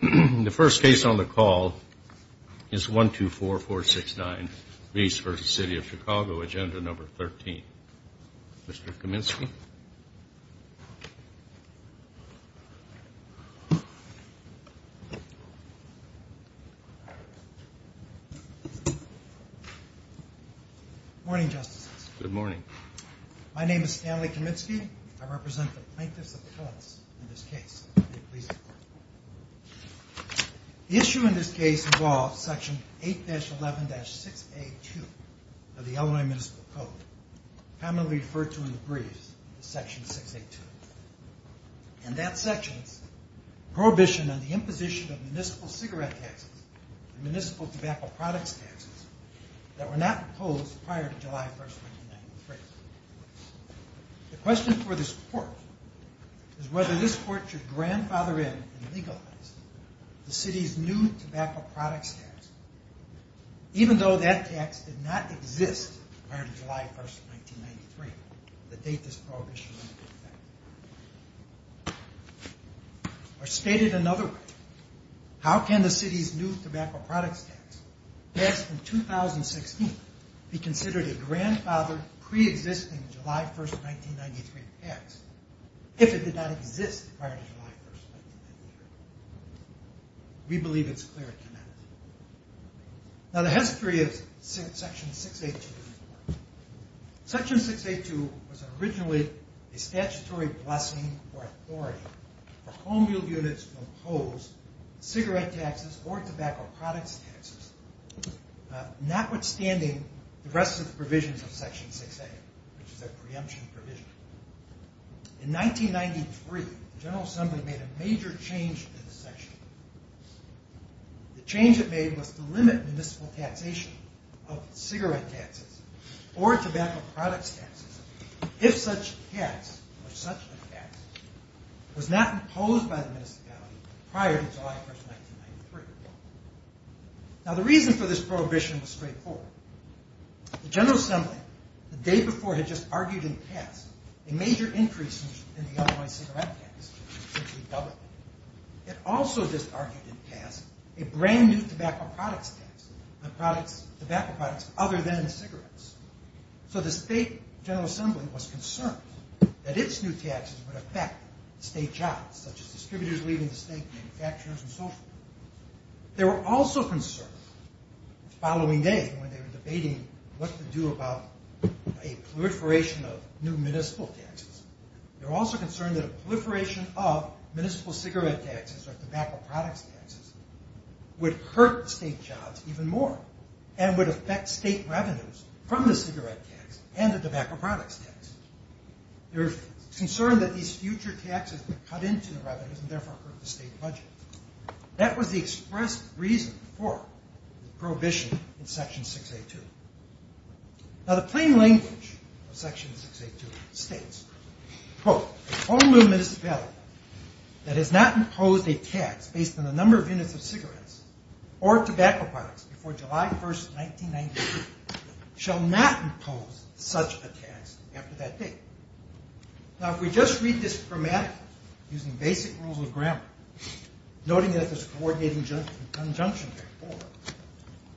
The first case on the call is 124469 Ries v. The City of Chicago, Agenda No. 13. Mr. Kaminsky. Good morning, Justices. Good morning. My name is Stanley Kaminsky. I represent the Plaintiffs Appellants in this case. The issue in this case involves Section 8-11-6A2 of the Illinois Municipal Code, commonly referred to in the briefs as Section 6A2. And that section prohibits the imposition of municipal cigarette taxes and municipal tobacco products taxes that were not proposed prior to July 1st, 1993. The question for this court is whether this court should grandfather in and legalize the city's new tobacco products tax, even though that tax did not exist prior to July 1st, 1993, the date this prohibition went into effect. Or stated another way, how can the city's new tobacco products tax passed in 2016 be considered a grandfathered, pre-existing July 1st, 1993 tax if it did not exist prior to July 1st, 1993? We believe it's clear it cannot. Now the history of Section 6A2. Section 6A2 was originally a statutory blessing or authority for home-built units to impose cigarette taxes or tobacco products taxes, notwithstanding the rest of the provisions of Section 6A, which is a preemption provision. In 1993, the General Assembly made a major change to the section. The change it made was to limit municipal taxation of cigarette taxes or tobacco products taxes if such a tax was not imposed by the municipality prior to July 1st, 1993. Now the reason for this prohibition was straightforward. The General Assembly, the day before, had just argued in the past a major increase in the otherwise cigarette tax. It also just argued in the past a brand new tobacco products tax on tobacco products other than cigarettes. So the state General Assembly was concerned that its new taxes would affect state jobs, such as distributors leaving the state, manufacturers, and so forth. They were also concerned the following day when they were debating what to do about a proliferation of new municipal taxes. They were also concerned that a proliferation of municipal cigarette taxes or tobacco products taxes would hurt state jobs even more and would affect state revenues from the cigarette tax and the tobacco products tax. They were concerned that these future taxes would cut into the revenues and therefore hurt the state budget. That was the express reason for the prohibition in Section 6A. Now the plain language of Section 6A.2 states, quote, only a municipality that has not imposed a tax based on the number of units of cigarettes or tobacco products before July 1st, 1993 shall not impose such a tax after that date. Now if we just read this grammatically, using basic rules of grammar, noting that there's a coordinating conjunction there,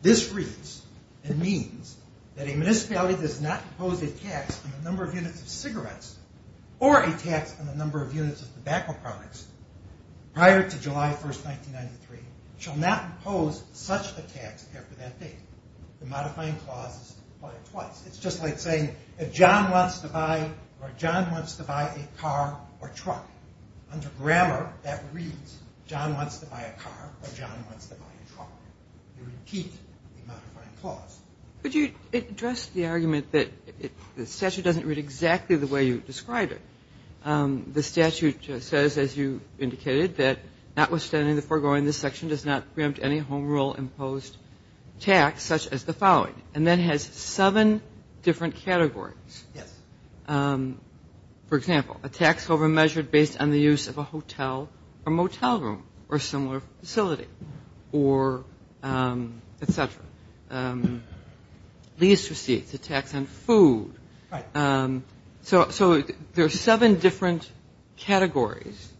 this reads and means that a municipality that has not imposed a tax on the number of units of cigarettes or a tax on the number of units of tobacco products prior to July 1st, 1993 shall not impose such a tax after that date. The modifying clause is applied twice. It's just like saying if John wants to buy or John wants to buy a car or truck. Under grammar, that reads John wants to buy a car or John wants to buy a truck. You repeat the modifying clause. Could you address the argument that the statute doesn't read exactly the way you describe it? The statute says, as you indicated, that notwithstanding the foregoing, this section does not preempt any home rule imposed tax such as the following and then has seven different categories. For example, a tax over measured based on the use of a hotel or motel room or similar facility or etc. Lease receipts, a tax on food. So there's seven different categories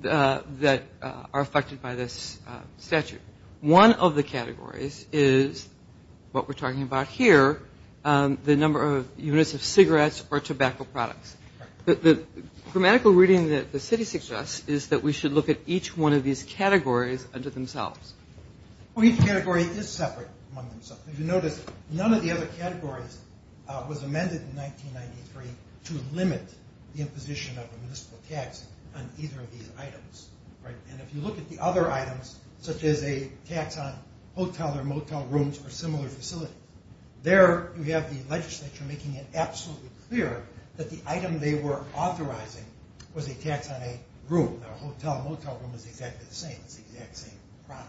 that are affected by this statute. One of the categories is what we're talking about here, the number of units of cigarettes or tobacco products. The grammatical reading that the city suggests is that we should look at each one of these categories under themselves. Each category is separate among themselves. If you notice, none of the other categories was amended in 1993 to limit the imposition of a municipal tax on either of these items. If you look at the other items, such as a tax on hotel or motel rooms or similar facility, there you have the legislature making it absolutely clear that the item they were authorizing was a tax on a room. A hotel or motel room is exactly the same. It's the exact same product.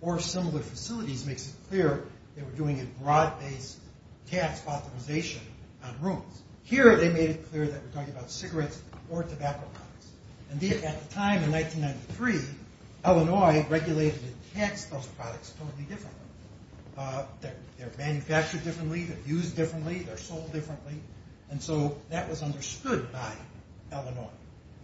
Or similar facilities makes it clear they were doing a broad based tax authorization on rooms. Here they made it clear that we're talking about cigarettes or tobacco products. Indeed, at the time in 1993, Illinois regulated and taxed those products totally differently. They're manufactured differently, they're used differently, they're sold differently, and so that was understood by Illinois.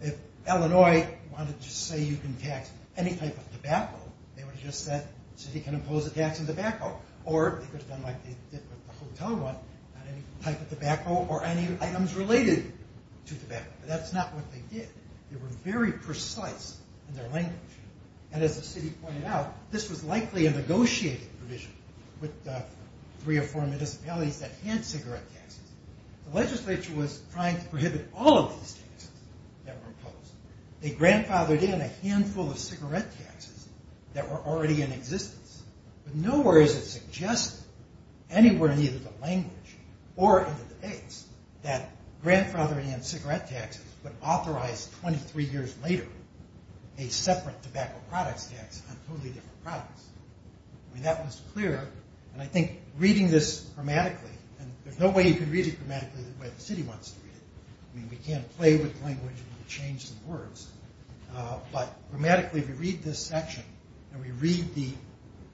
If Illinois wanted to say you can tax any type of tobacco, they would have just said the city can impose a tax on tobacco. Or they could have done like they did with the hotel one, not any type of tobacco or any items related to tobacco. But that's not what they did. They were very precise in their language. And as the city pointed out, this was likely a negotiated provision with three or four municipalities that had cigarette taxes. The legislature was trying to prohibit all of these taxes that were imposed. They grandfathered in a handful of cigarette taxes that were already in existence. But nowhere is it suggested anywhere in either the language or in the debates that grandfathering in cigarette taxes would authorize 23 years later a separate tobacco products tax on totally different products. I mean, that was clear. And I think reading this grammatically, and there's no way you can read it grammatically the way the city wants to read it. I mean, we can't play with language and change some words. But grammatically, if you read this section and we read the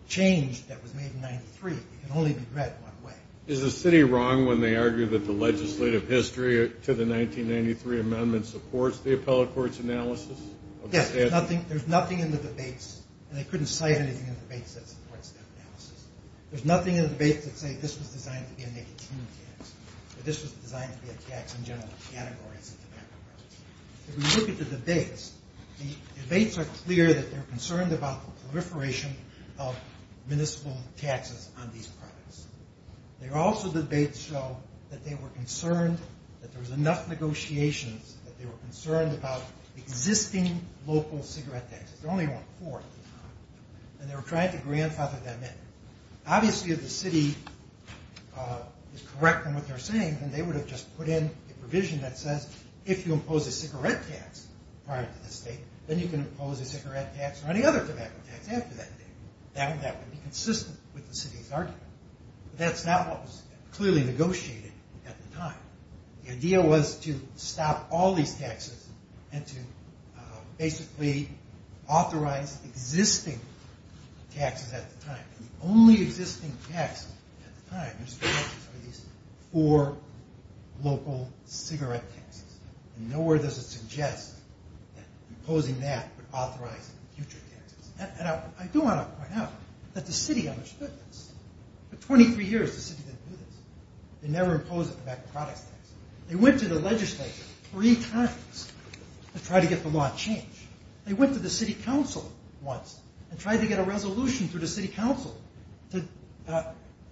change that was made in 93, it can only be read one way. Is the city wrong when they argue that the legislative history to the 1993 amendment supports the appellate court's analysis? Yes. There's nothing in the debates, and they couldn't cite anything in the debates that supports that analysis. There's nothing in the debates that say this was designed to be a negative tax, or this was designed to be a tax in general categories of tobacco products. If we look at the debates, the debates are clear that they're concerned about the proliferation of municipal taxes on these products. They're also the debates show that they were concerned that there was enough negotiations that they were concerned about existing local cigarette taxes. And they were trying to grandfather them in. Obviously, if the city is correct in what they're saying, then they would have just put in a provision that says, if you impose a cigarette tax prior to this date, then you can impose a cigarette tax or any other tobacco tax after that date. That would be consistent with the city's argument. That's not what was clearly negotiated at the time. The idea was to stop all these taxes and to basically authorize existing taxes at the time. The only existing tax at the time was four local cigarette taxes. Nowhere does it suggest that imposing that would authorize future taxes. And I do want to point out that the city understood this. For 23 years, the city didn't do this. They never imposed tobacco products taxes. They went to the legislature three times to try to get the law changed. They went to the city council once and tried to get a resolution through the city council to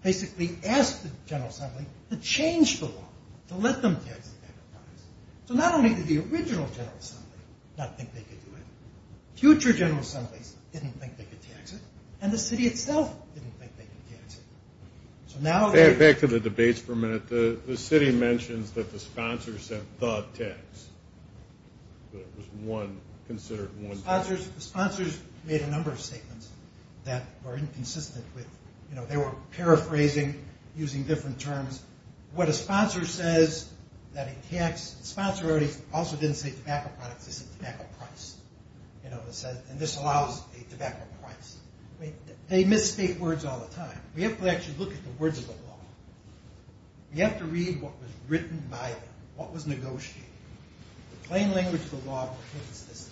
basically ask the General Assembly to change the law, to let them tax the tobacco products. So not only did the original General Assembly not think they could do it, future General Assemblies didn't think they could tax it, and the city itself didn't think they could tax it. Back to the debates for a minute. The city mentions that the sponsor sent the tax. Sponsors made a number of statements that were inconsistent. They were paraphrasing, using different terms. What a sponsor says, a sponsor also didn't say tobacco products, they said tobacco price. And this allows a tobacco price. They misstate words all the time. We have to actually look at the words of the law. We have to read what was written by them, what was negotiated. The plain language of the law was this and this.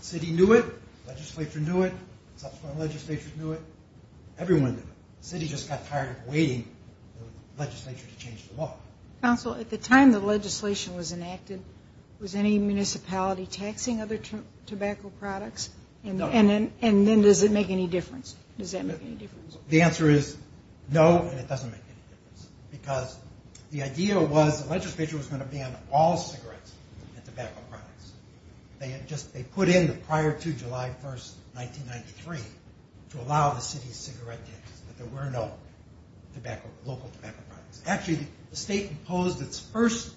The city knew it, the legislature knew it, the subsequent legislature knew it, everyone knew it. The city just got tired of waiting for the legislature to change the law. Counsel, at the time the legislation was enacted, was any municipality taxing other tobacco products? And then does it make any difference? The answer is no, and it doesn't make any difference. Because the idea was the legislature was going to ban all cigarettes and tobacco products. They put in the prior to July 1st, 1993, to allow the city's cigarette taxes, but there were no local tobacco products. Actually, the state imposed its first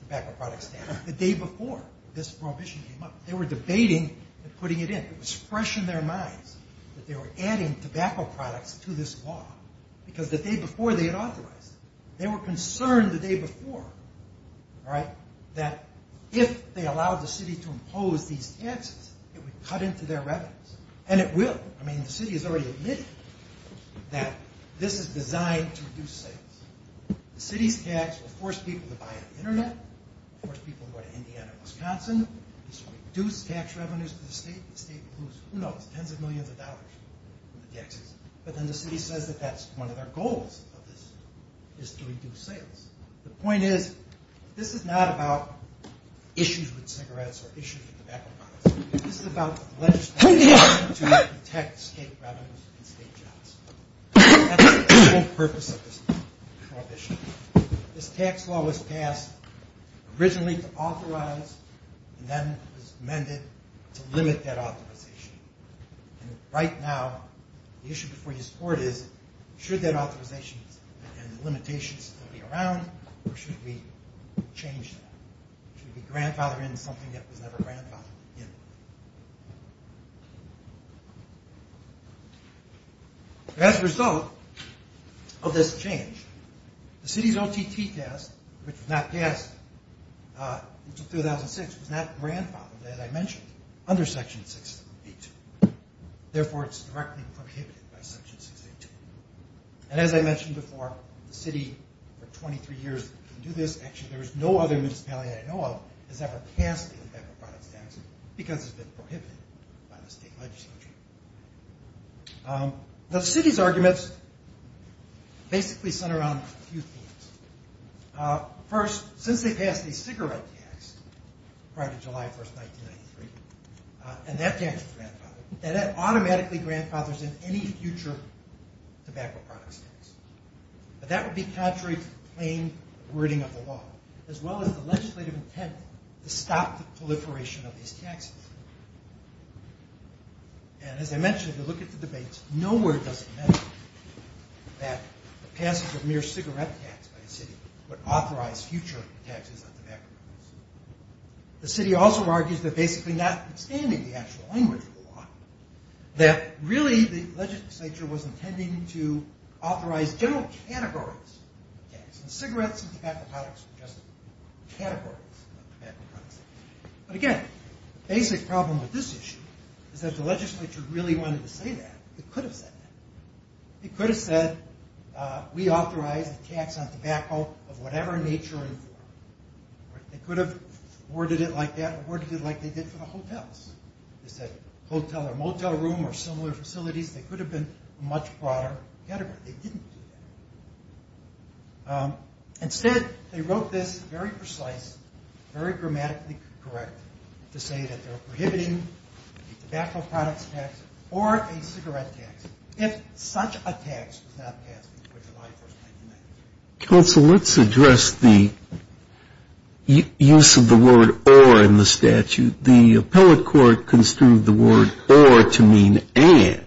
tobacco products tax the day before this prohibition came up. They were debating and putting it in. It was fresh in their minds that they were adding tobacco products to this law because the day before they had authorized it. They were concerned the day before that if they allowed the city to impose these taxes, it would cut into their revenues. And it will. I mean, the city has already admitted that this is designed to reduce sales. The city's tax will force people to buy on the internet, force people to go to Indiana or Wisconsin. This will reduce tax revenues for the state. The state will lose, who knows, tens of millions of dollars. But then the city says that that's one of their goals, is to reduce sales. The point is, this is not about issues with cigarettes or issues with tobacco products. This is about the legislature trying to protect state revenues and state jobs. That's the whole purpose of this prohibition. This tax law was passed originally to authorize and then was amended to limit that authorization. Right now, the issue before this court is, should that authorization and the limitations still be around, or should we change that? Should we grandfather in something that was never grandfathered in? As a result of this change, the city's OTT test, which was not passed until 2006, was not grandfathered, as I mentioned, under Section 682. Therefore, it's directly prohibited by Section 682. As I mentioned before, the city for 23 years can do this. Actually, there is no other municipality I know of that has ever passed the tobacco products tax because it's been prohibited by the state legislature. The city's arguments basically center around a few things. First, since they passed the cigarette tax prior to July 1, 1993, and that tax was grandfathered, that automatically grandfathers in any future tobacco products tax. That would be contrary to the plain wording of the law, as well as the legislative intent to stop the proliferation of these taxes. As I mentioned, if you look at the debates, nowhere does it mention that the passage of mere cigarette tax by the city would authorize future taxes on tobacco products. The city also argues that basically notwithstanding the actual language of the law, that really the legislature was intending to authorize general categories of tax. Cigarettes and tobacco products were just categories of tobacco products. Again, the basic problem with this issue is that if the legislature really wanted to say that, they could have said that. They could have said, we authorize the tax on tobacco of whatever nature and form. They could have worded it like that or worded it like they did for the hotels. They could have said hotel or motel room or similar facilities. They could have been a much broader category. They didn't do that. Instead, they wrote this very precise, very grammatically correct, to say that they're prohibiting tobacco products tax or a cigarette tax if such a tax was not passed before July 1st, 1990. Counsel, let's address the use of the word or in the statute. The appellate court construed the word or to mean and,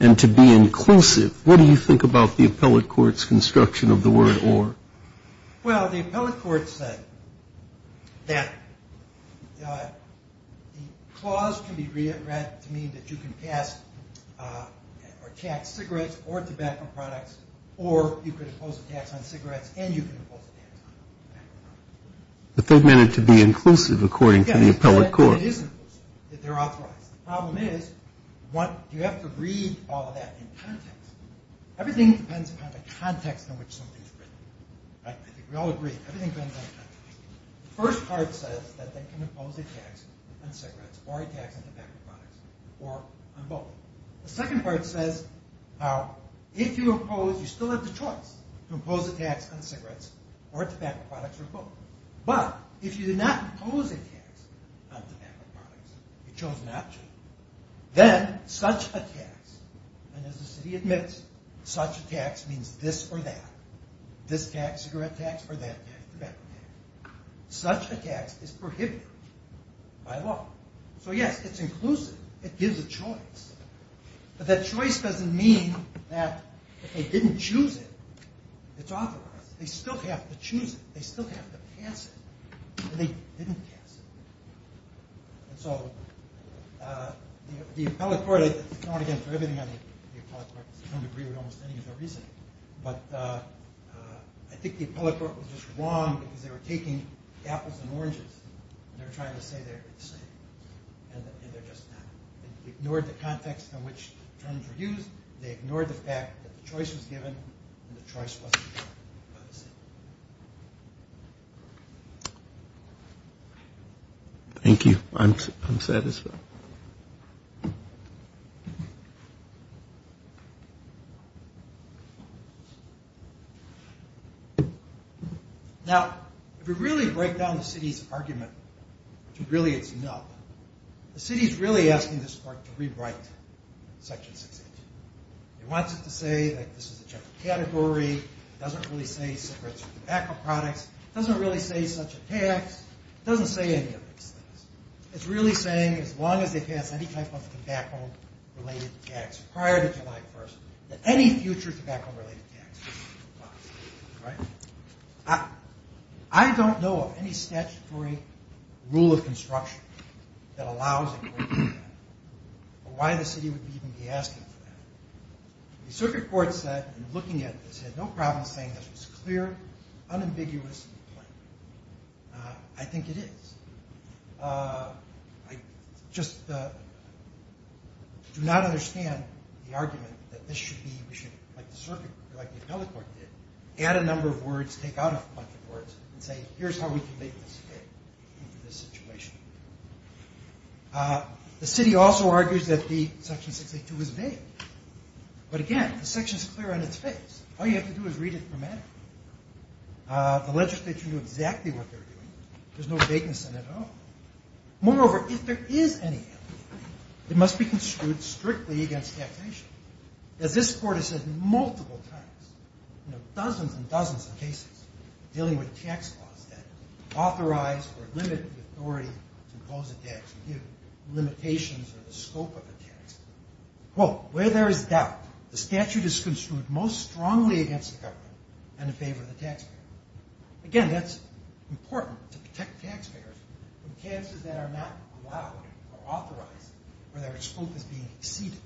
and to be inclusive. What do you think about the appellate court's construction of the word or? Well, the appellate court said that the clause can be read to mean that you can pass or tax cigarettes or tobacco products or you can impose a tax on cigarettes and you can impose a tax on tobacco products. But they meant it to be inclusive according to the appellate court. The problem is, you have to read all of that in context. Everything depends on the context in which something is written. We all agree, everything depends on the context. The first part says that they can impose a tax on cigarettes or tobacco products or on both. The second part says, if you impose, you still have the choice to impose a tax on cigarettes or tobacco products or both. But if you did not impose a tax on tobacco products, you chose not to, then such a tax, and as the city admits, such a tax means this or that. This tax, cigarette tax, or that tax, tobacco tax. Such a tax is prohibited by law. So yes, it's inclusive. It gives a choice. But that choice doesn't mean that if they didn't choose it, it's authorized. They still have to choose it. They still have to pass it. They didn't pass it. So the appellate court, I don't want to get into everything on the appellate court. I don't agree with almost any of their reasoning. But I think the appellate court was just wrong because they were taking apples and oranges and they were trying to say they're the same. And they're just not. They ignored the context in which terms were used. They ignored the fact that the choice was given and the choice wasn't given by the city. Thank you. I'm satisfied. Now, if we really break down the city's argument, which really it's not, the city's really asking this court to rewrite Section 618. It wants it to say that this is a general category. It doesn't really say cigarettes or tobacco products. It doesn't really say such a tax. It doesn't say any of these things. It's really saying as long as they pass any type of tobacco-related tax prior to July 1st, that any future tobacco-related tax should be passed. I don't know of any statutory rule of construction that allows it. I think it is. I just do not understand the argument that this should be, like the appellate court did, add a number of words, take out a bunch of words, and say here's how we can make this fit into this situation. The city also argues that the Section 682 is vague. But again, the section is clear on its face. All you have to do is read it grammatically. The legislature knew exactly what they were doing. There's no vagueness in it at all. Moreover, if there is any ambiguity, it must be construed strictly against taxation. As this court has said multiple times in dozens and dozens of cases dealing with tax laws that authorize or limit the authority to impose a tax or give limitations on the scope of a tax, quote, where there is doubt, the statute is construed most strongly against the government and in favor of the taxpayer. Again, that's important to protect taxpayers from cases that are not allowed or authorized or their scope is being exceeded.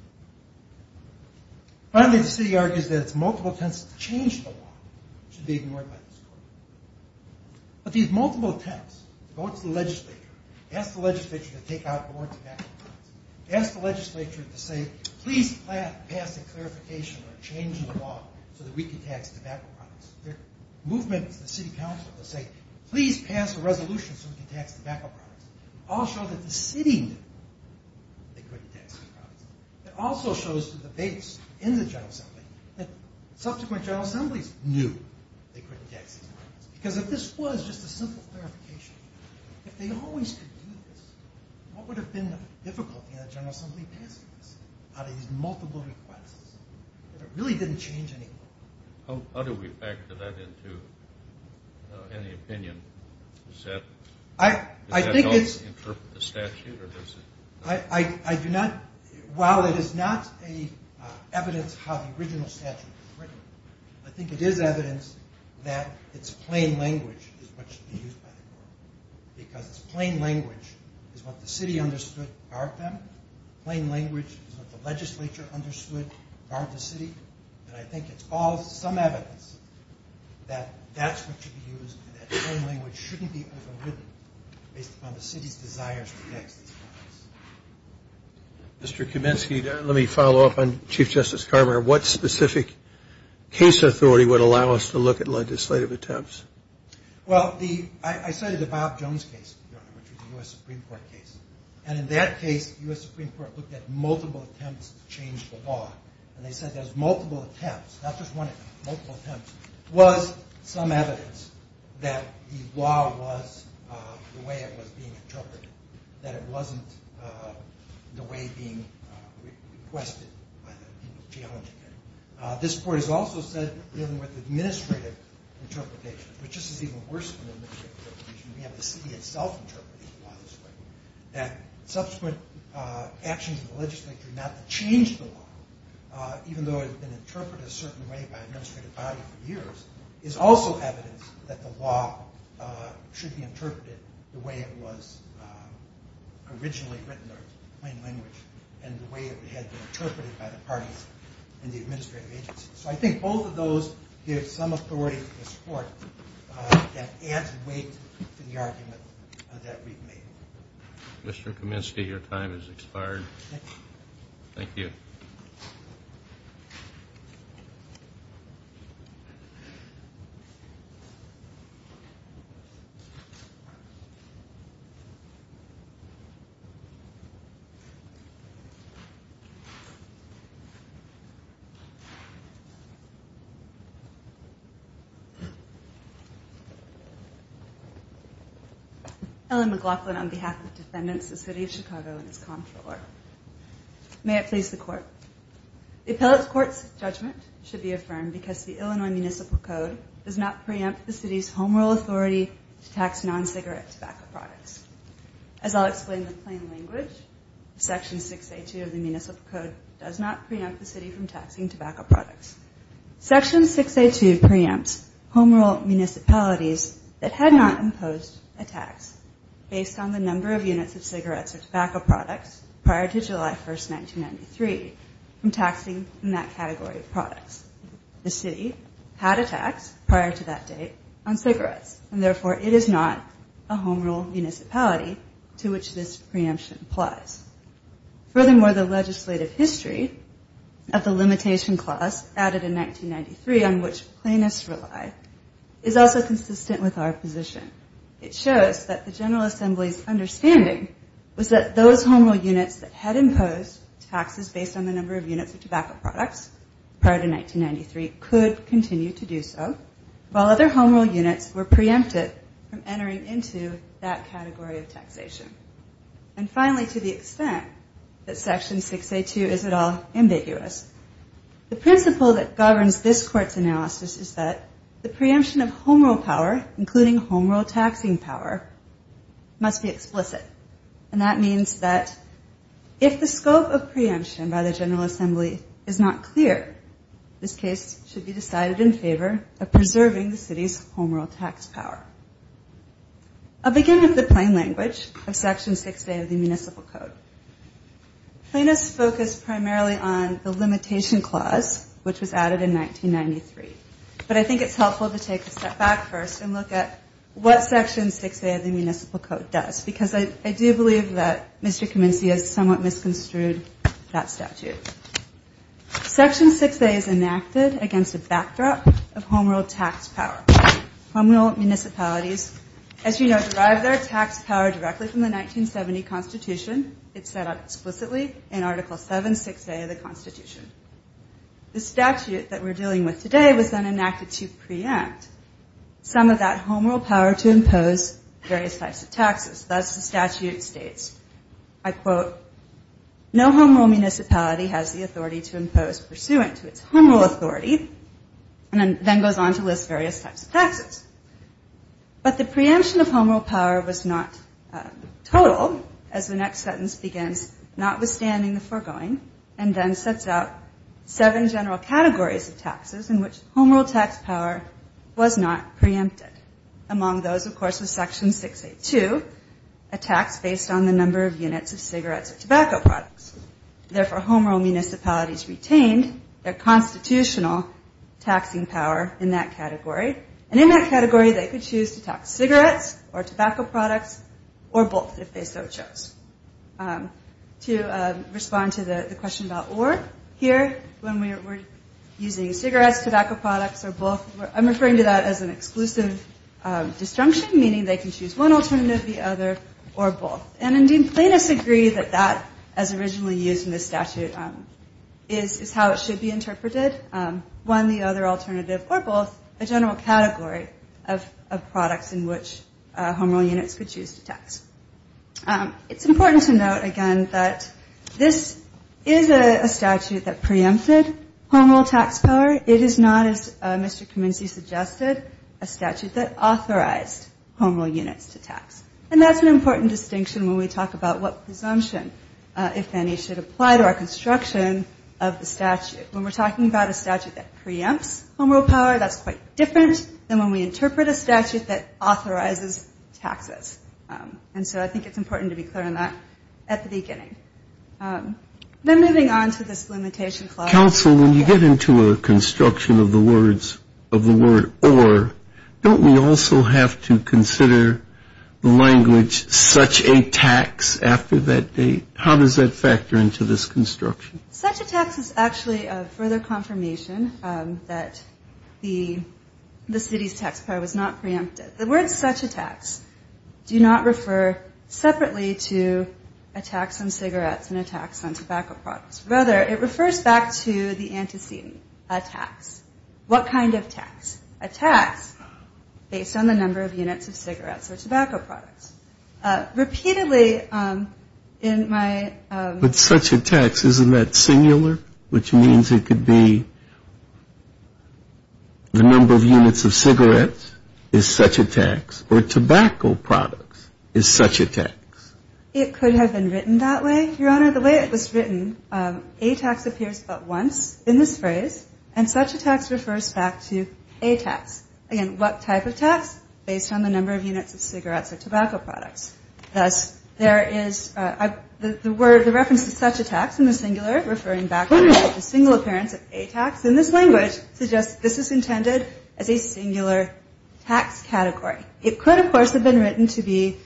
Finally, the city argues that it's multiple attempts to change the law should be ignored by this court. But these multiple attempts to go to the legislature, ask the legislature to take out board tobacco products, ask the legislature to say please pass a clarification or a change in the law so that we can tax tobacco products, their movement to the city council to say please pass a resolution so we can tax tobacco products, all show that the city knew they couldn't tax tobacco products. It also shows to the base in the General Assembly that subsequent General Assemblies knew they couldn't tax these products. Because if this was just a simple clarification, if they always could do this, what would have been the difficulty in a General Assembly passing this out of these multiple requests if it really didn't change anything? How do we factor that into any opinion? Does that help interpret the statute? I do not, while it is not evidence how the original statute was written, I think it is evidence that it's plain language is what should be used by the court. Because it's plain language is what the city understood barred them. Plain language is what the legislature understood barred the city. And I think it's all some evidence that that's what should be used and that plain language shouldn't be overridden based upon the city's desires to tax these products. Mr. Kaminsky, let me follow up on Chief Justice Carver. What specific case authority would allow us to look at legislative attempts? Well, I cited the Bob Jones case, which was a U.S. Supreme Court case. And in that case, the U.S. Supreme Court looked at multiple attempts to change the law. And they said there's multiple attempts, not just one attempt, multiple attempts, was some evidence that the law was the way it was being interpreted, that it wasn't the way being requested by the people challenging it. This court has also said, dealing with administrative interpretation, which is even worse than administrative interpretation, we have the city itself interpreting the law this way, that subsequent actions of the legislature not to change the law, even though it had been interpreted a certain way by an administrative body for years, is also evidence that the law should be interpreted the way it was originally written, or plain language, and the way it had been interpreted by the parties in the administration. So I think both of those give some authority to this court that adds weight to the argument that we've made. Mr. Kaminsky, your time has expired. Thank you. Ellen McLaughlin on behalf of defendants, the City of Chicago, and its Comptroller. May it please the Court. The appellate court's judgment should be affirmed because the Illinois Municipal Code does not preempt the city's home rule authority to tax non-cigarette tobacco products. As I'll explain with plain language, Section 6A2 of the Municipal Code does not preempt the city from taxing tobacco products. Section 6A2 preempts home rule municipalities that had not imposed a tax based on the number of units of cigarettes or tobacco products prior to July 1, 1993, from taxing in that category of products. The city had a tax prior to that date on cigarettes, and therefore it is not a home rule municipality to which this preemption applies. Furthermore, the legislative history of the limitation clause added in 1993 on which plaintiffs rely is also consistent with our position. It shows that the General Assembly's understanding was that those home rule units that had imposed taxes based on the number of units of tobacco products prior to 1993 could continue to do so, while other home rule units were preempted from entering into that category of taxation. And finally, to the extent that Section 6A2 is at all ambiguous, the principle that governs this Court's analysis is that the preemption of home rule power, including home rule taxing power, must be explicit. And that means that if the scope of preemption by the General Assembly is not clear, this case should be decided in favor of preserving the city's home rule tax power. I'll begin with the plain language of Section 6A of the Municipal Code. Plaintiffs focused primarily on the limitation clause, which was added in 1993. But I think it's helpful to take a step back first and look at what Section 6A of the Municipal Code does, because I do believe that Mr. Kaminsky has somewhat misconstrued that statute. Section 6A is enacted against a backdrop of home rule tax power. Home rule municipalities, as you know, derive their tax power directly from the 1970 Constitution. It's set up explicitly in Article 7, 6A of the Constitution. The statute that we're dealing with today was then enacted to preempt some of that home rule power to impose various types of taxes. Thus, the statute states, I quote, no home rule municipality has the authority to impose pursuant to its home rule authority, and then goes on to list various types of taxes. But the preemption of home rule power was not total, as the next sentence begins, notwithstanding the foregoing, and then sets out seven general categories of taxes in which home rule tax power was not preempted. Among those, of course, was Section 6A-2, a tax based on the number of units of cigarettes per household, and a tax based on the number of units of tobacco products. Therefore, home rule municipalities retained their constitutional taxing power in that category. And in that category, they could choose to tax cigarettes or tobacco products or both, if they so chose. To respond to the question about or, here, when we're using cigarettes, tobacco products, or both, I'm referring to that as an exclusive disjunction, meaning they can choose one alternative, the other, or both. And indeed, plaintiffs agree that that is a reasonable use in this statute is how it should be interpreted. One, the other alternative, or both, a general category of products in which home rule units could choose to tax. It's important to note, again, that this is a statute that preempted home rule tax power. It is not, as Mr. Kaminsky suggested, a statute that authorized home rule units to tax. And that's an important distinction when we talk about what presumption is if any should apply to our construction of the statute. When we're talking about a statute that preempts home rule power, that's quite different than when we interpret a statute that authorizes taxes. And so I think it's important to be clear on that at the beginning. Then moving on to this limitation clause. Counsel, when you get into a construction of the word or, don't we also have to consider the language such a tax after that date? How does that factor into this construction? Such a tax is actually a further confirmation that the city's tax power was not preempted. The word such a tax do not refer separately to a tax on cigarettes and a tax on tobacco products. Rather, it refers back to the antecedent, a tax. What kind of tax? A tax based on the number of units of cigarettes. But such a tax, isn't that singular? Which means it could be the number of units of cigarettes is such a tax, or tobacco products is such a tax. It could have been written that way, Your Honor. The way it was written, a tax appears but once in this phrase, and such a tax refers back to a tax. Again, what type of tax? Based on the number of units of cigarettes or tobacco products. Thus, there is, the word such a tax is not intended to refer back to a tax. For the reference to such a tax in the singular, referring back to a single appearance of a tax in this language suggests this is intended as a singular tax category. It could, of course, have been written to be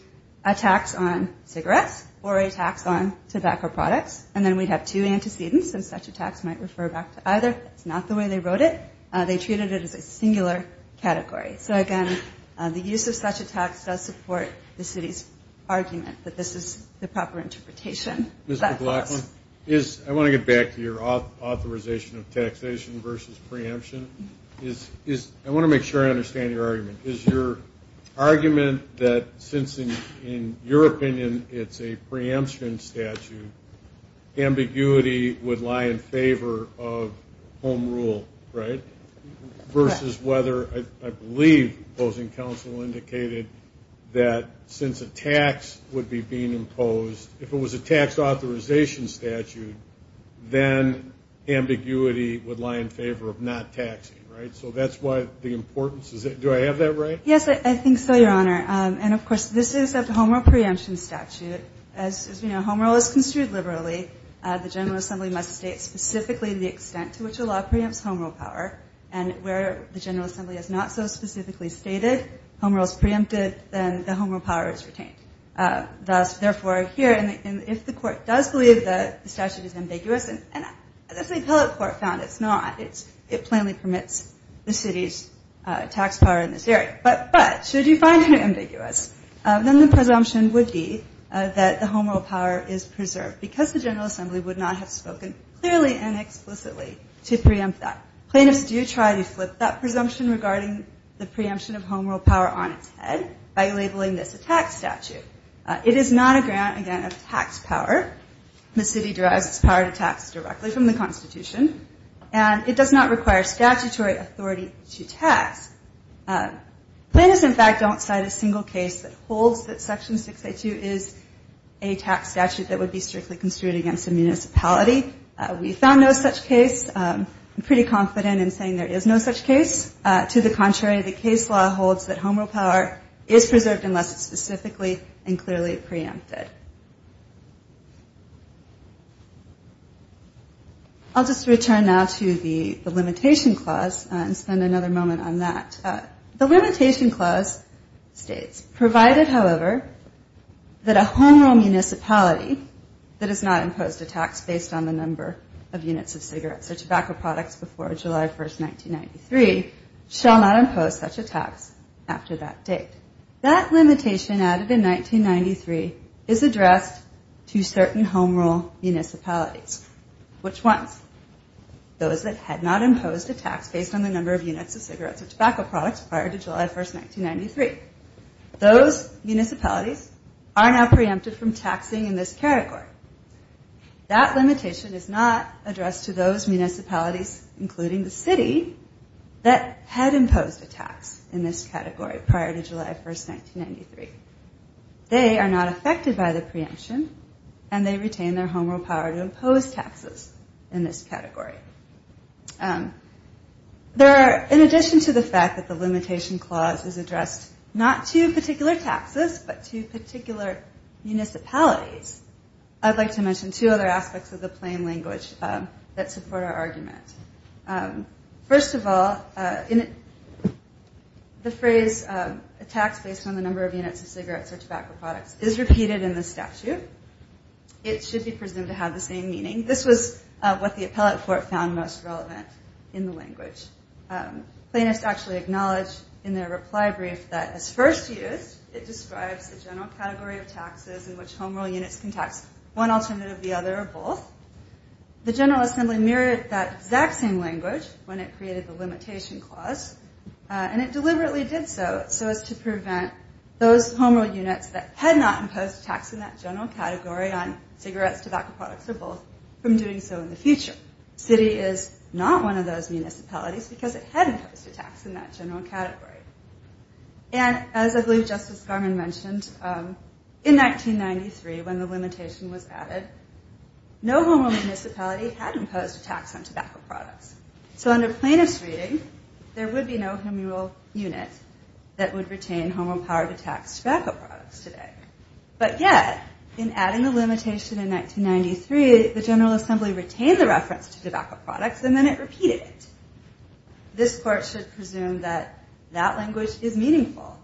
a tax on cigarettes or a tax on tobacco products, and then we'd have two antecedents, and such a tax might refer back to either. That's not the way they wrote it. They treated it as a singular category. So again, the use of such a tax does support the city's argument that this is the proper interpretation. Mr. Blackman, I want to get back to your authorization of taxation versus preemption. I want to make sure I understand your argument. Is your argument that since, in your opinion, it's a preemption statute, ambiguity would lie in favor of home rule, right? Versus whether, I believe, opposing counsel indicated that since a tax would be being imposed, if it was a tax authorization, statute, then ambiguity would lie in favor of not taxing, right? So that's what the importance is. Do I have that right? Yes, I think so, Your Honor. And of course, this is a home rule preemption statute. As we know, home rule is construed liberally. The General Assembly must state specifically the extent to which a law preempts home rule power, and where the General Assembly has not so specifically stated, home rule is preempted, then the home rule power is retained. Thus, therefore, here, and if the court does believe that the statute is ambiguous, and the appellate court found it's not, it plainly permits the city's tax power in this area, but should you find it ambiguous, then the presumption would be that the home rule power is preserved, because the General Assembly would not have spoken clearly and explicitly to preempt that. Plaintiffs do try to flip that presumption regarding the preemption of home rule power on its head by labeling this a tax statute. It is not a grant, again, of tax power. The city derives its power to tax directly from the Constitution, and it does not require statutory authority to tax. Plaintiffs, in fact, don't cite a single case that holds that Section 682 is a tax statute that would be strictly construed against a municipality. We found no such case. I'm pretty confident in saying there is no such case. To the contrary, the case law holds that home rule power is preserved unless it's specifically and clearly preempted. I'll just return now to the limitation clause and spend another moment on that. The limitation clause states, provided, however, that a home rule municipality that has not imposed a tax based on the number of units of cigarettes or tobacco products before July 1, 1993, shall not impose such a tax after that date. That limitation added in 1993 is addressed to certain home rule municipalities. Which ones? Those that had not imposed a tax based on the number of units of cigarettes or tobacco products prior to July 1, 1993. Those municipalities are now preempted from taxing in this category. That limitation is not addressed to those municipalities, including the city, that had imposed a tax in this category prior to July 1, 1993. They are not affected by the preemption and they retain their home rule power to impose taxes in this category. In addition to the fact that the limitation clause is addressed not to particular taxes but to particular municipalities, I'd like to mention two other aspects of the plain language that support our argument. First of all, the phrase tax based on the number of units of cigarettes or tobacco products is repeated in the statute. It should be presumed to have the same meaning. This was what the appellate court found most relevant in the language. Plaintiffs actually acknowledge in their reply brief that as first used it describes the general category of taxes in which home rule units can tax one alternative, the other, or both. The General Assembly mirrored that exact same language when it created the limitation clause and it deliberately did so so as to prevent those home rule units that had not imposed a tax in that general category on cigarettes, tobacco products, or both from doing so in the future. The city is not one of those municipalities because it had imposed a tax in that general category. And as I believe Justice Garmon mentioned, in 1993 when the limitation was added, no home rule municipality had imposed a tax on tobacco products. So under plaintiff's reading, there would be no home rule unit that would retain home rule power to tax tobacco products. But yet, in adding the limitation in 1993, the General Assembly retained the reference to tobacco products and then it repeated it. This court should presume that that language is meaningful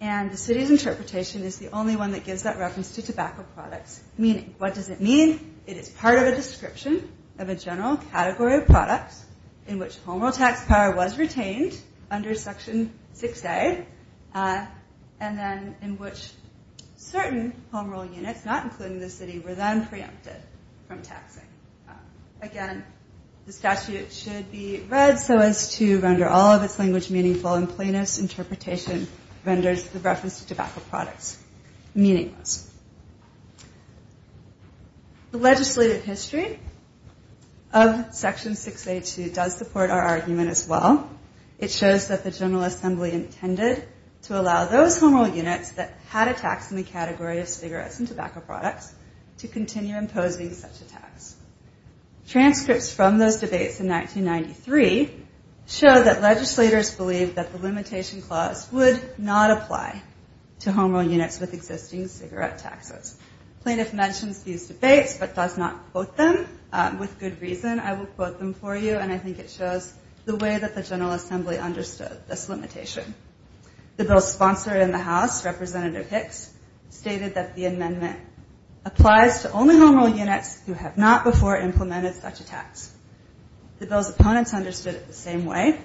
and the city's interpretation is the only one that gives that reference to tobacco products meaning. What does it mean? It is part of a description of a general category of products in which home rule tax power was retained under Section 6A and then it is part of a description of a general category in which certain home rule units, not including the city, were then preempted from taxing. Again, the statute should be read so as to render all of its language meaningful and plaintiff's interpretation renders the reference to tobacco products meaningless. The legislative history of Section 6A2 does support our argument as well. It shows that the General Assembly did not impose a tax on home rule units that had a tax in the category of cigarettes and tobacco products to continue imposing such a tax. Transcripts from those debates in 1993 show that legislators believed that the limitation clause would not apply to home rule units with existing cigarette taxes. Plaintiff mentions these debates but does not quote them. With good reason, I will quote them for you and I think it shows the way that the General Assembly understood this limitation. The bill's sponsor in the House, Representative Hicks, stated that the amendment applies to only home rule units who have not before implemented such a tax. The bill's opponents understood it the same way.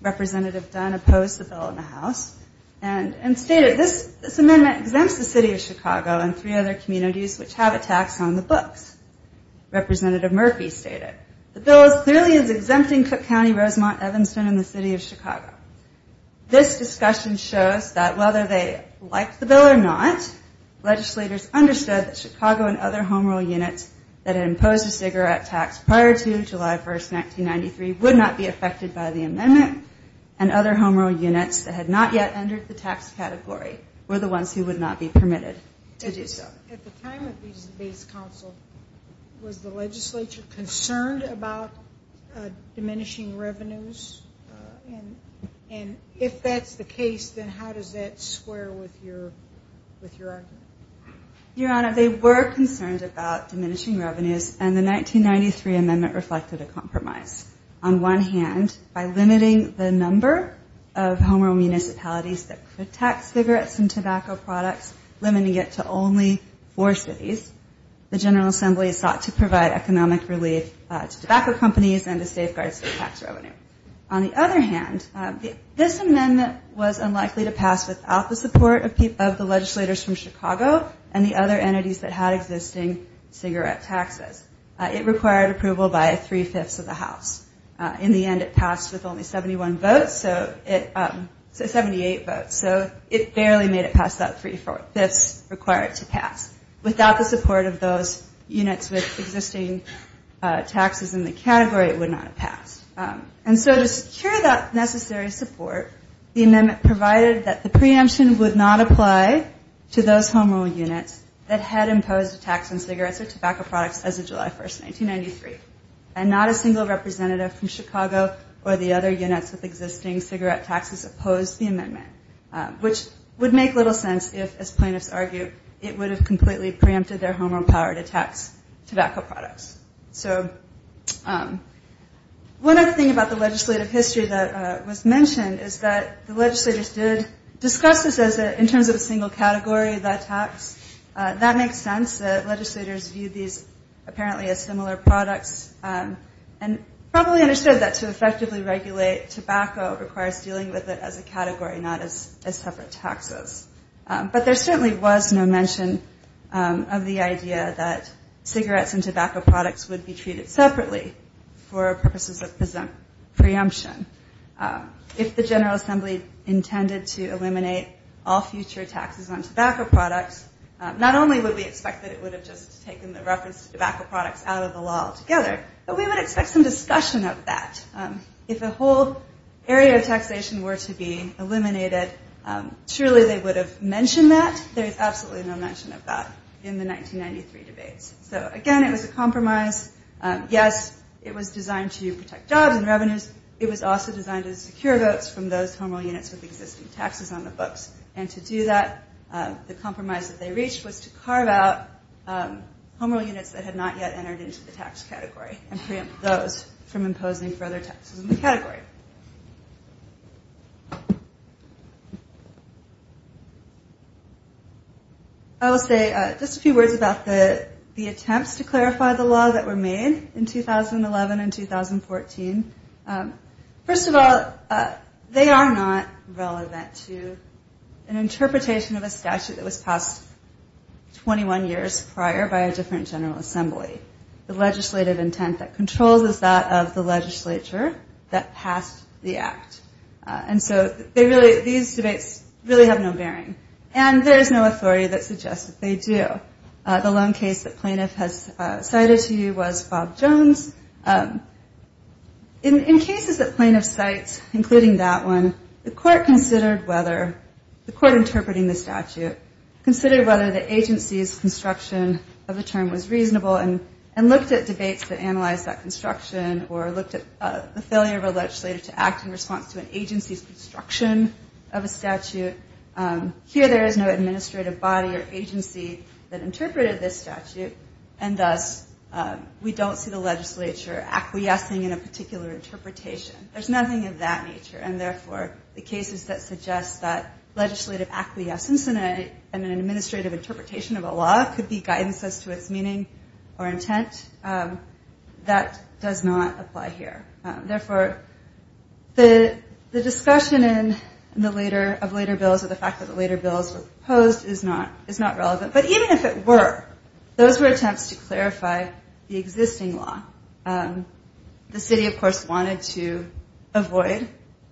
Representative Dunn opposed the bill in the House and stated, this amendment exempts the City of Chicago and three other communities which have a tax on the books. Representative Murphy stated, the bill clearly is exempting Cook County, Rosemont, Evanston, and the City of Chicago. This discussion shows that whether they liked the bill or not, legislators understood that Chicago and other home rule units that imposed a cigarette tax prior to July 1st, 1993 would not be affected by the amendment and other home rule units that had not yet entered the tax category were the ones who would not be permitted to do so. At the time of these debates, was the legislature concerned about diminishing revenues? And if that's the case, would the legislature be concerned about diminishing revenues? If that's the case, then how does that square with your argument? Your Honor, they were concerned about diminishing revenues and the 1993 amendment reflected a compromise. On one hand, by limiting the number of home rule municipalities that could tax cigarettes and tobacco products, limiting it to only four cities, the General Assembly sought to provide economic relief to tobacco companies and to safeguard state tax revenue. On the other hand, this amendment was unlikely to pass without the support of the legislators from Chicago and the other entities that had existing cigarette taxes. It required approval by three-fifths of the House. In the end, it passed with only 71 votes, 78 votes, so it barely made it past that three-fifths required to pass. Without the support of those units with existing taxes in the category, it would not pass. To secure that necessary support, the amendment provided that the preemption would not apply to those home rule units that had imposed a tax on cigarettes or tobacco products as of July 1, 1993. And not a single representative from Chicago or the other units with existing cigarette taxes opposed the amendment, which would make little sense if, as plaintiffs argue, it would have completely preempted their home rule power to tax tobacco products. So one other thing about the legislative history that was mentioned is that the legislators did discuss this as in terms of a single category, that tax. That makes sense. The legislators viewed these apparently as similar products and probably understood that to effectively regulate tobacco requires dealing with it as a category, not as separate taxes. But there certainly was no mention of the idea that cigarettes and tobacco products should be treated separately for purposes of preemption. If the General Assembly intended to eliminate all future taxes on tobacco products, not only would we expect that it would have just taken the reference to tobacco products out of the law altogether, but we would expect some discussion of that. If a whole area of taxation were to be eliminated, surely they would have mentioned that. There is absolutely no mention of that in the 1993 debates. So again, it was a compromise. Yes, it was designed to protect jobs and revenues. It was also designed to secure votes from those home rule units with existing taxes on the books. And to do that, the compromise that they reached was to carve out home rule units that had not yet entered into the tax category and preempt those from imposing further taxes on the category. I will say just a few words about the attempts to clarify the law that were made in 2011 and 2014. First of all, they are not relevant to an interpretation of a statute that was passed 21 years prior by a different General Assembly. The General Assembly passed the act. And so these debates really have no bearing. And there is no authority that suggests that they do. The lone case that plaintiff has cited to you was Bob Jones. In cases that plaintiff cites, including that one, the court considered whether, the court interpreting the statute, considered whether the agency's construction of a term was reasonable and looked at debates that analyzed that construction or looked at the failure of a legislative committee to act in response to an agency's construction of a statute. Here, there is no administrative body or agency that interpreted this statute. And thus, we don't see the legislature acquiescing in a particular interpretation. There's nothing of that nature. And therefore, the cases that suggest that legislative acquiescence in an administrative interpretation of a law could be guidance as to its meaning or intent, that does not apply here. Therefore, the court has no authority to say that the discussion of later bills or the fact that the later bills were proposed is not relevant. But even if it were, those were attempts to clarify the existing law. The city, of course, wanted to avoid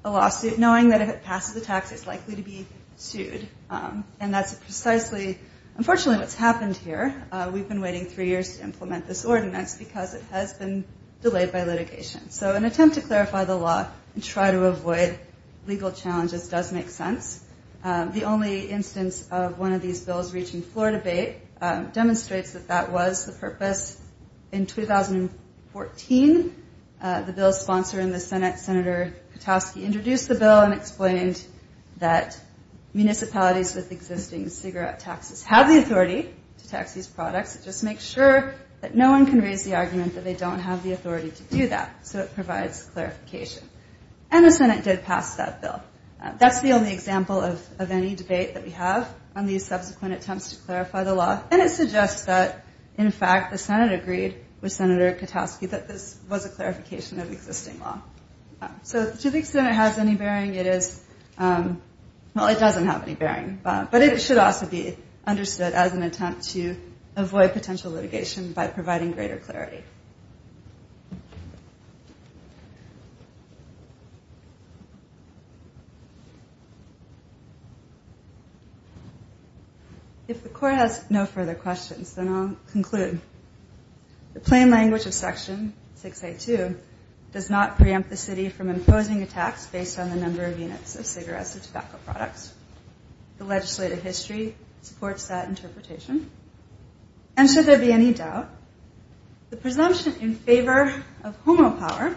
a lawsuit, knowing that if it passes the tax, it's likely to be sued. And that's precisely, unfortunately, what's happened here. We've been waiting three years to implement this law and try to avoid legal challenges does make sense. The only instance of one of these bills reaching floor debate demonstrates that that was the purpose. In 2014, the bill's sponsor in the Senate, Senator Katowski, introduced the bill and explained that municipalities with existing cigarette taxes have the authority to tax these products. It just makes sure that no one can raise the argument that they don't have the authority to do that. So it provides clarification. And the Senate did pass that bill. That's the only example of any debate that we have on these subsequent attempts to clarify the law. And it suggests that, in fact, the Senate agreed with Senator Katowski that this was a clarification of existing law. So to the extent it has any bearing, it is, well, it doesn't have any bearing. But it should also be understood as an attempt to avoid potential litigation by providing greater clarity. If the court has no further questions, then I'll conclude. The plain language of Section 682 does not preempt the city from imposing a tax based on the number of units of cigarettes and tobacco products. The legislative history supports that interpretation. And should there be any doubt, the presumption in favor of homopower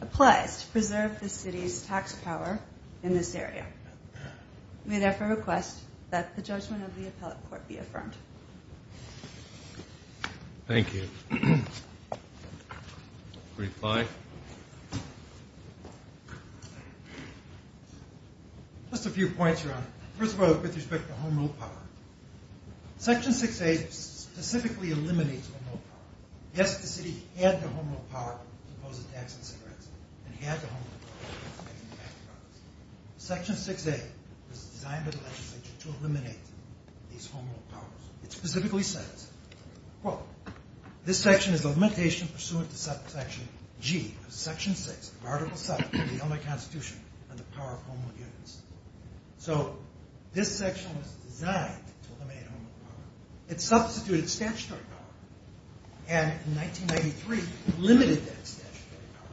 applies to preserve the city's tax power in this area. We therefore request that the judgment of the appellate court be affirmed. Thank you. Just a few points, Your Honor. First of all, with respect to homopower. Section 68 specifically eliminates homopower. Yes, the city had the homopower to impose a tax on cigarettes and had the homopower to make tobacco products. Section 68 was designed by the legislature to eliminate these homopowers. It specifically says, quote, this section is a limitation pursuant to Section G of Section 6 of Article 7 of the Illinois Constitution on the power of homo units. So this section was designed to eliminate homopower. It substituted statutory power. And in 1993, it limited that statutory power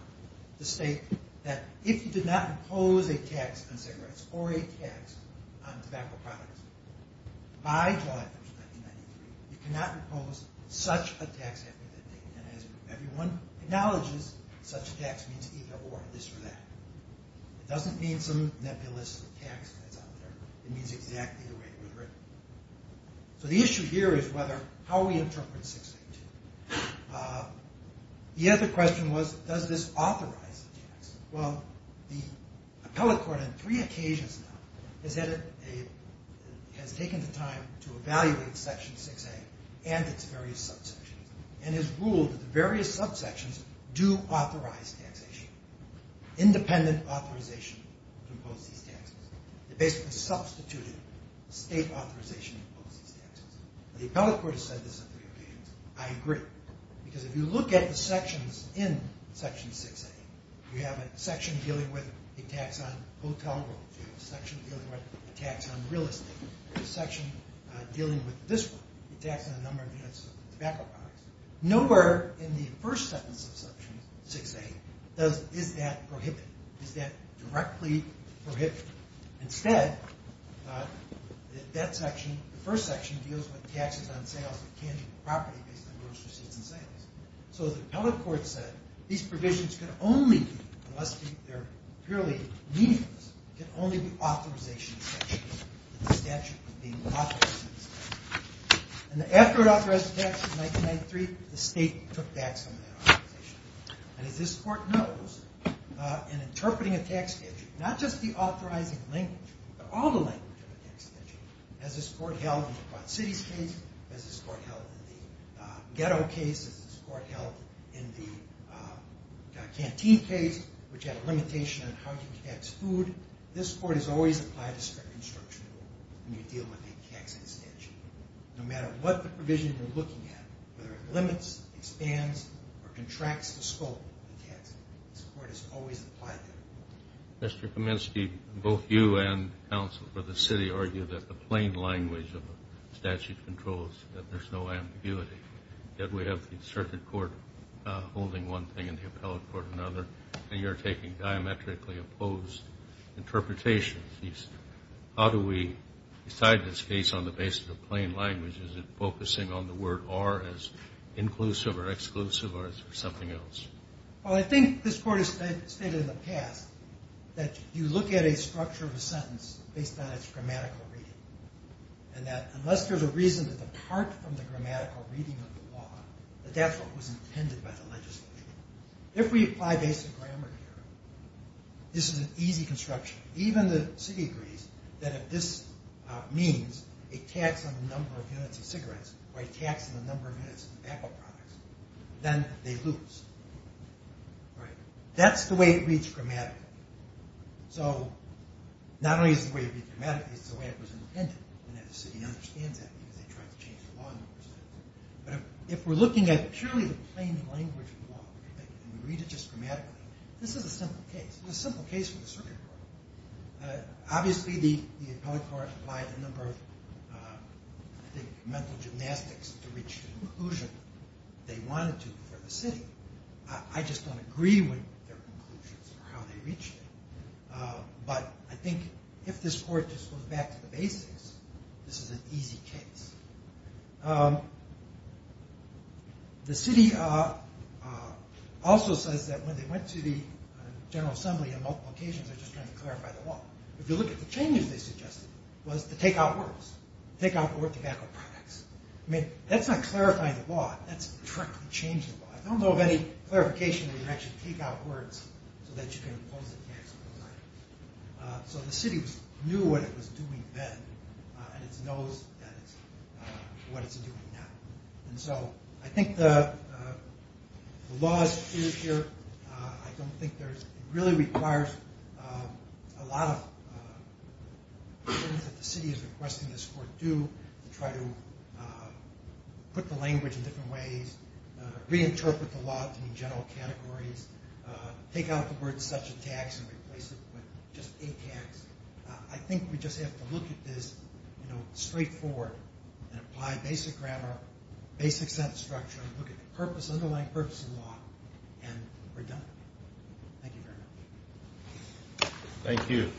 to state that if you did not impose a tax on cigarettes or a tax on tobacco products, by July 1, 1993, you cannot impose such a tax after that date. And as everyone acknowledges, such a tax means either or, this or that. It doesn't mean some nebulous tax that's out there. It means exactly the way it was written. So the issue here is how we interpret Section 682. The other question was, does this authorize a tax? Well, the appellate court on three occasions now has taken the time to evaluate Section 68 and its various subsections and has ruled that the various subsections do authorize taxation, independent authorization to impose these taxes. It basically substituted state authorization to impose these taxes. The appellate court has said this on three occasions. I agree. Because if you look at the sections in Section 68, you have a section dealing with a tax on hotel rooms, a section dealing with a tax on real estate, a section dealing with this one, a tax on a number of units of tobacco products. Nowhere in the first sentence of Section 68 is that prohibited. Is that directly prohibited? Instead, that section, the first section deals with taxes on sales of property based on gross receipts and sales. So the appellate court said these provisions can only, unless they're purely meaningless, can only be authorization sections. The statute was being authorized. And after it authorized the tax in 1993, the state took back some of that authorization. And as this court knows, in interpreting a tax statute, not just the authorizing language, but all the language of a tax statute, as this court held in the Quad Cities case, as this court held in the Ghetto case, as this court held in the Canteen case, which had a limitation on how you tax food, this court has always applied a strict instruction when you deal with a taxing statute. No matter what the provision you're looking at, whether it limits, expands, or contracts the scope of the tax, this court has always applied that. Mr. Kaminsky, both you and counsel for the city argue that the plain language of a statute controls, that there's no ambiguity, that we have the circuit court holding one thing and the appellate court another, and you're taking diametrically opposed interpretations. How do we decide this case on the basis of plain language? Is it focusing on the word are as inclusive or exclusive, or is there something else? Well, I think this court has stated in the past that you look at a structure of a sentence based on its grammatical reading, and that unless there's a reason to depart from the grammatical reading of the law, that that's what was intended by the legislature. If we apply basic grammar here, this is an easy construction. Even the city agrees that if this means a tax on the number of units of cigarettes, or a tax on the number of units of apple products, then they lose. That's the way it reads grammatically. So, not only is it the way it reads grammatically, it's the way it was intended. If we're looking at purely the plain language of the law, and we read it just grammatically, this is a simple case. It's a simple case for the circuit court. Obviously the appellate court applied a number of mental gymnastics to reach the conclusion they wanted to for the city. I just don't agree with their conclusions or how they reached it. But I think if this court just goes back to the basics, this is an easy case. The city also says that when they went to the General Assembly on multiple occasions, they were just trying to clarify the law. If you look at the changes they suggested, it was to take out words. That's not clarifying the law, that's directly changing the law. I don't know of any clarification where you actually take out words so that you can impose a tax on those items. So the city knew what it was doing then, and it knows what it's doing now. I think the laws here, I don't think there's... I don't think that the city is requesting this court do, try to put the language in different ways, reinterpret the law in general categories, take out the word such a tax and replace it with just a tax. I think we just have to look at this straightforward, apply basic grammar, basic sense structure, look at the underlying purpose of the law, and we're done. Thank you.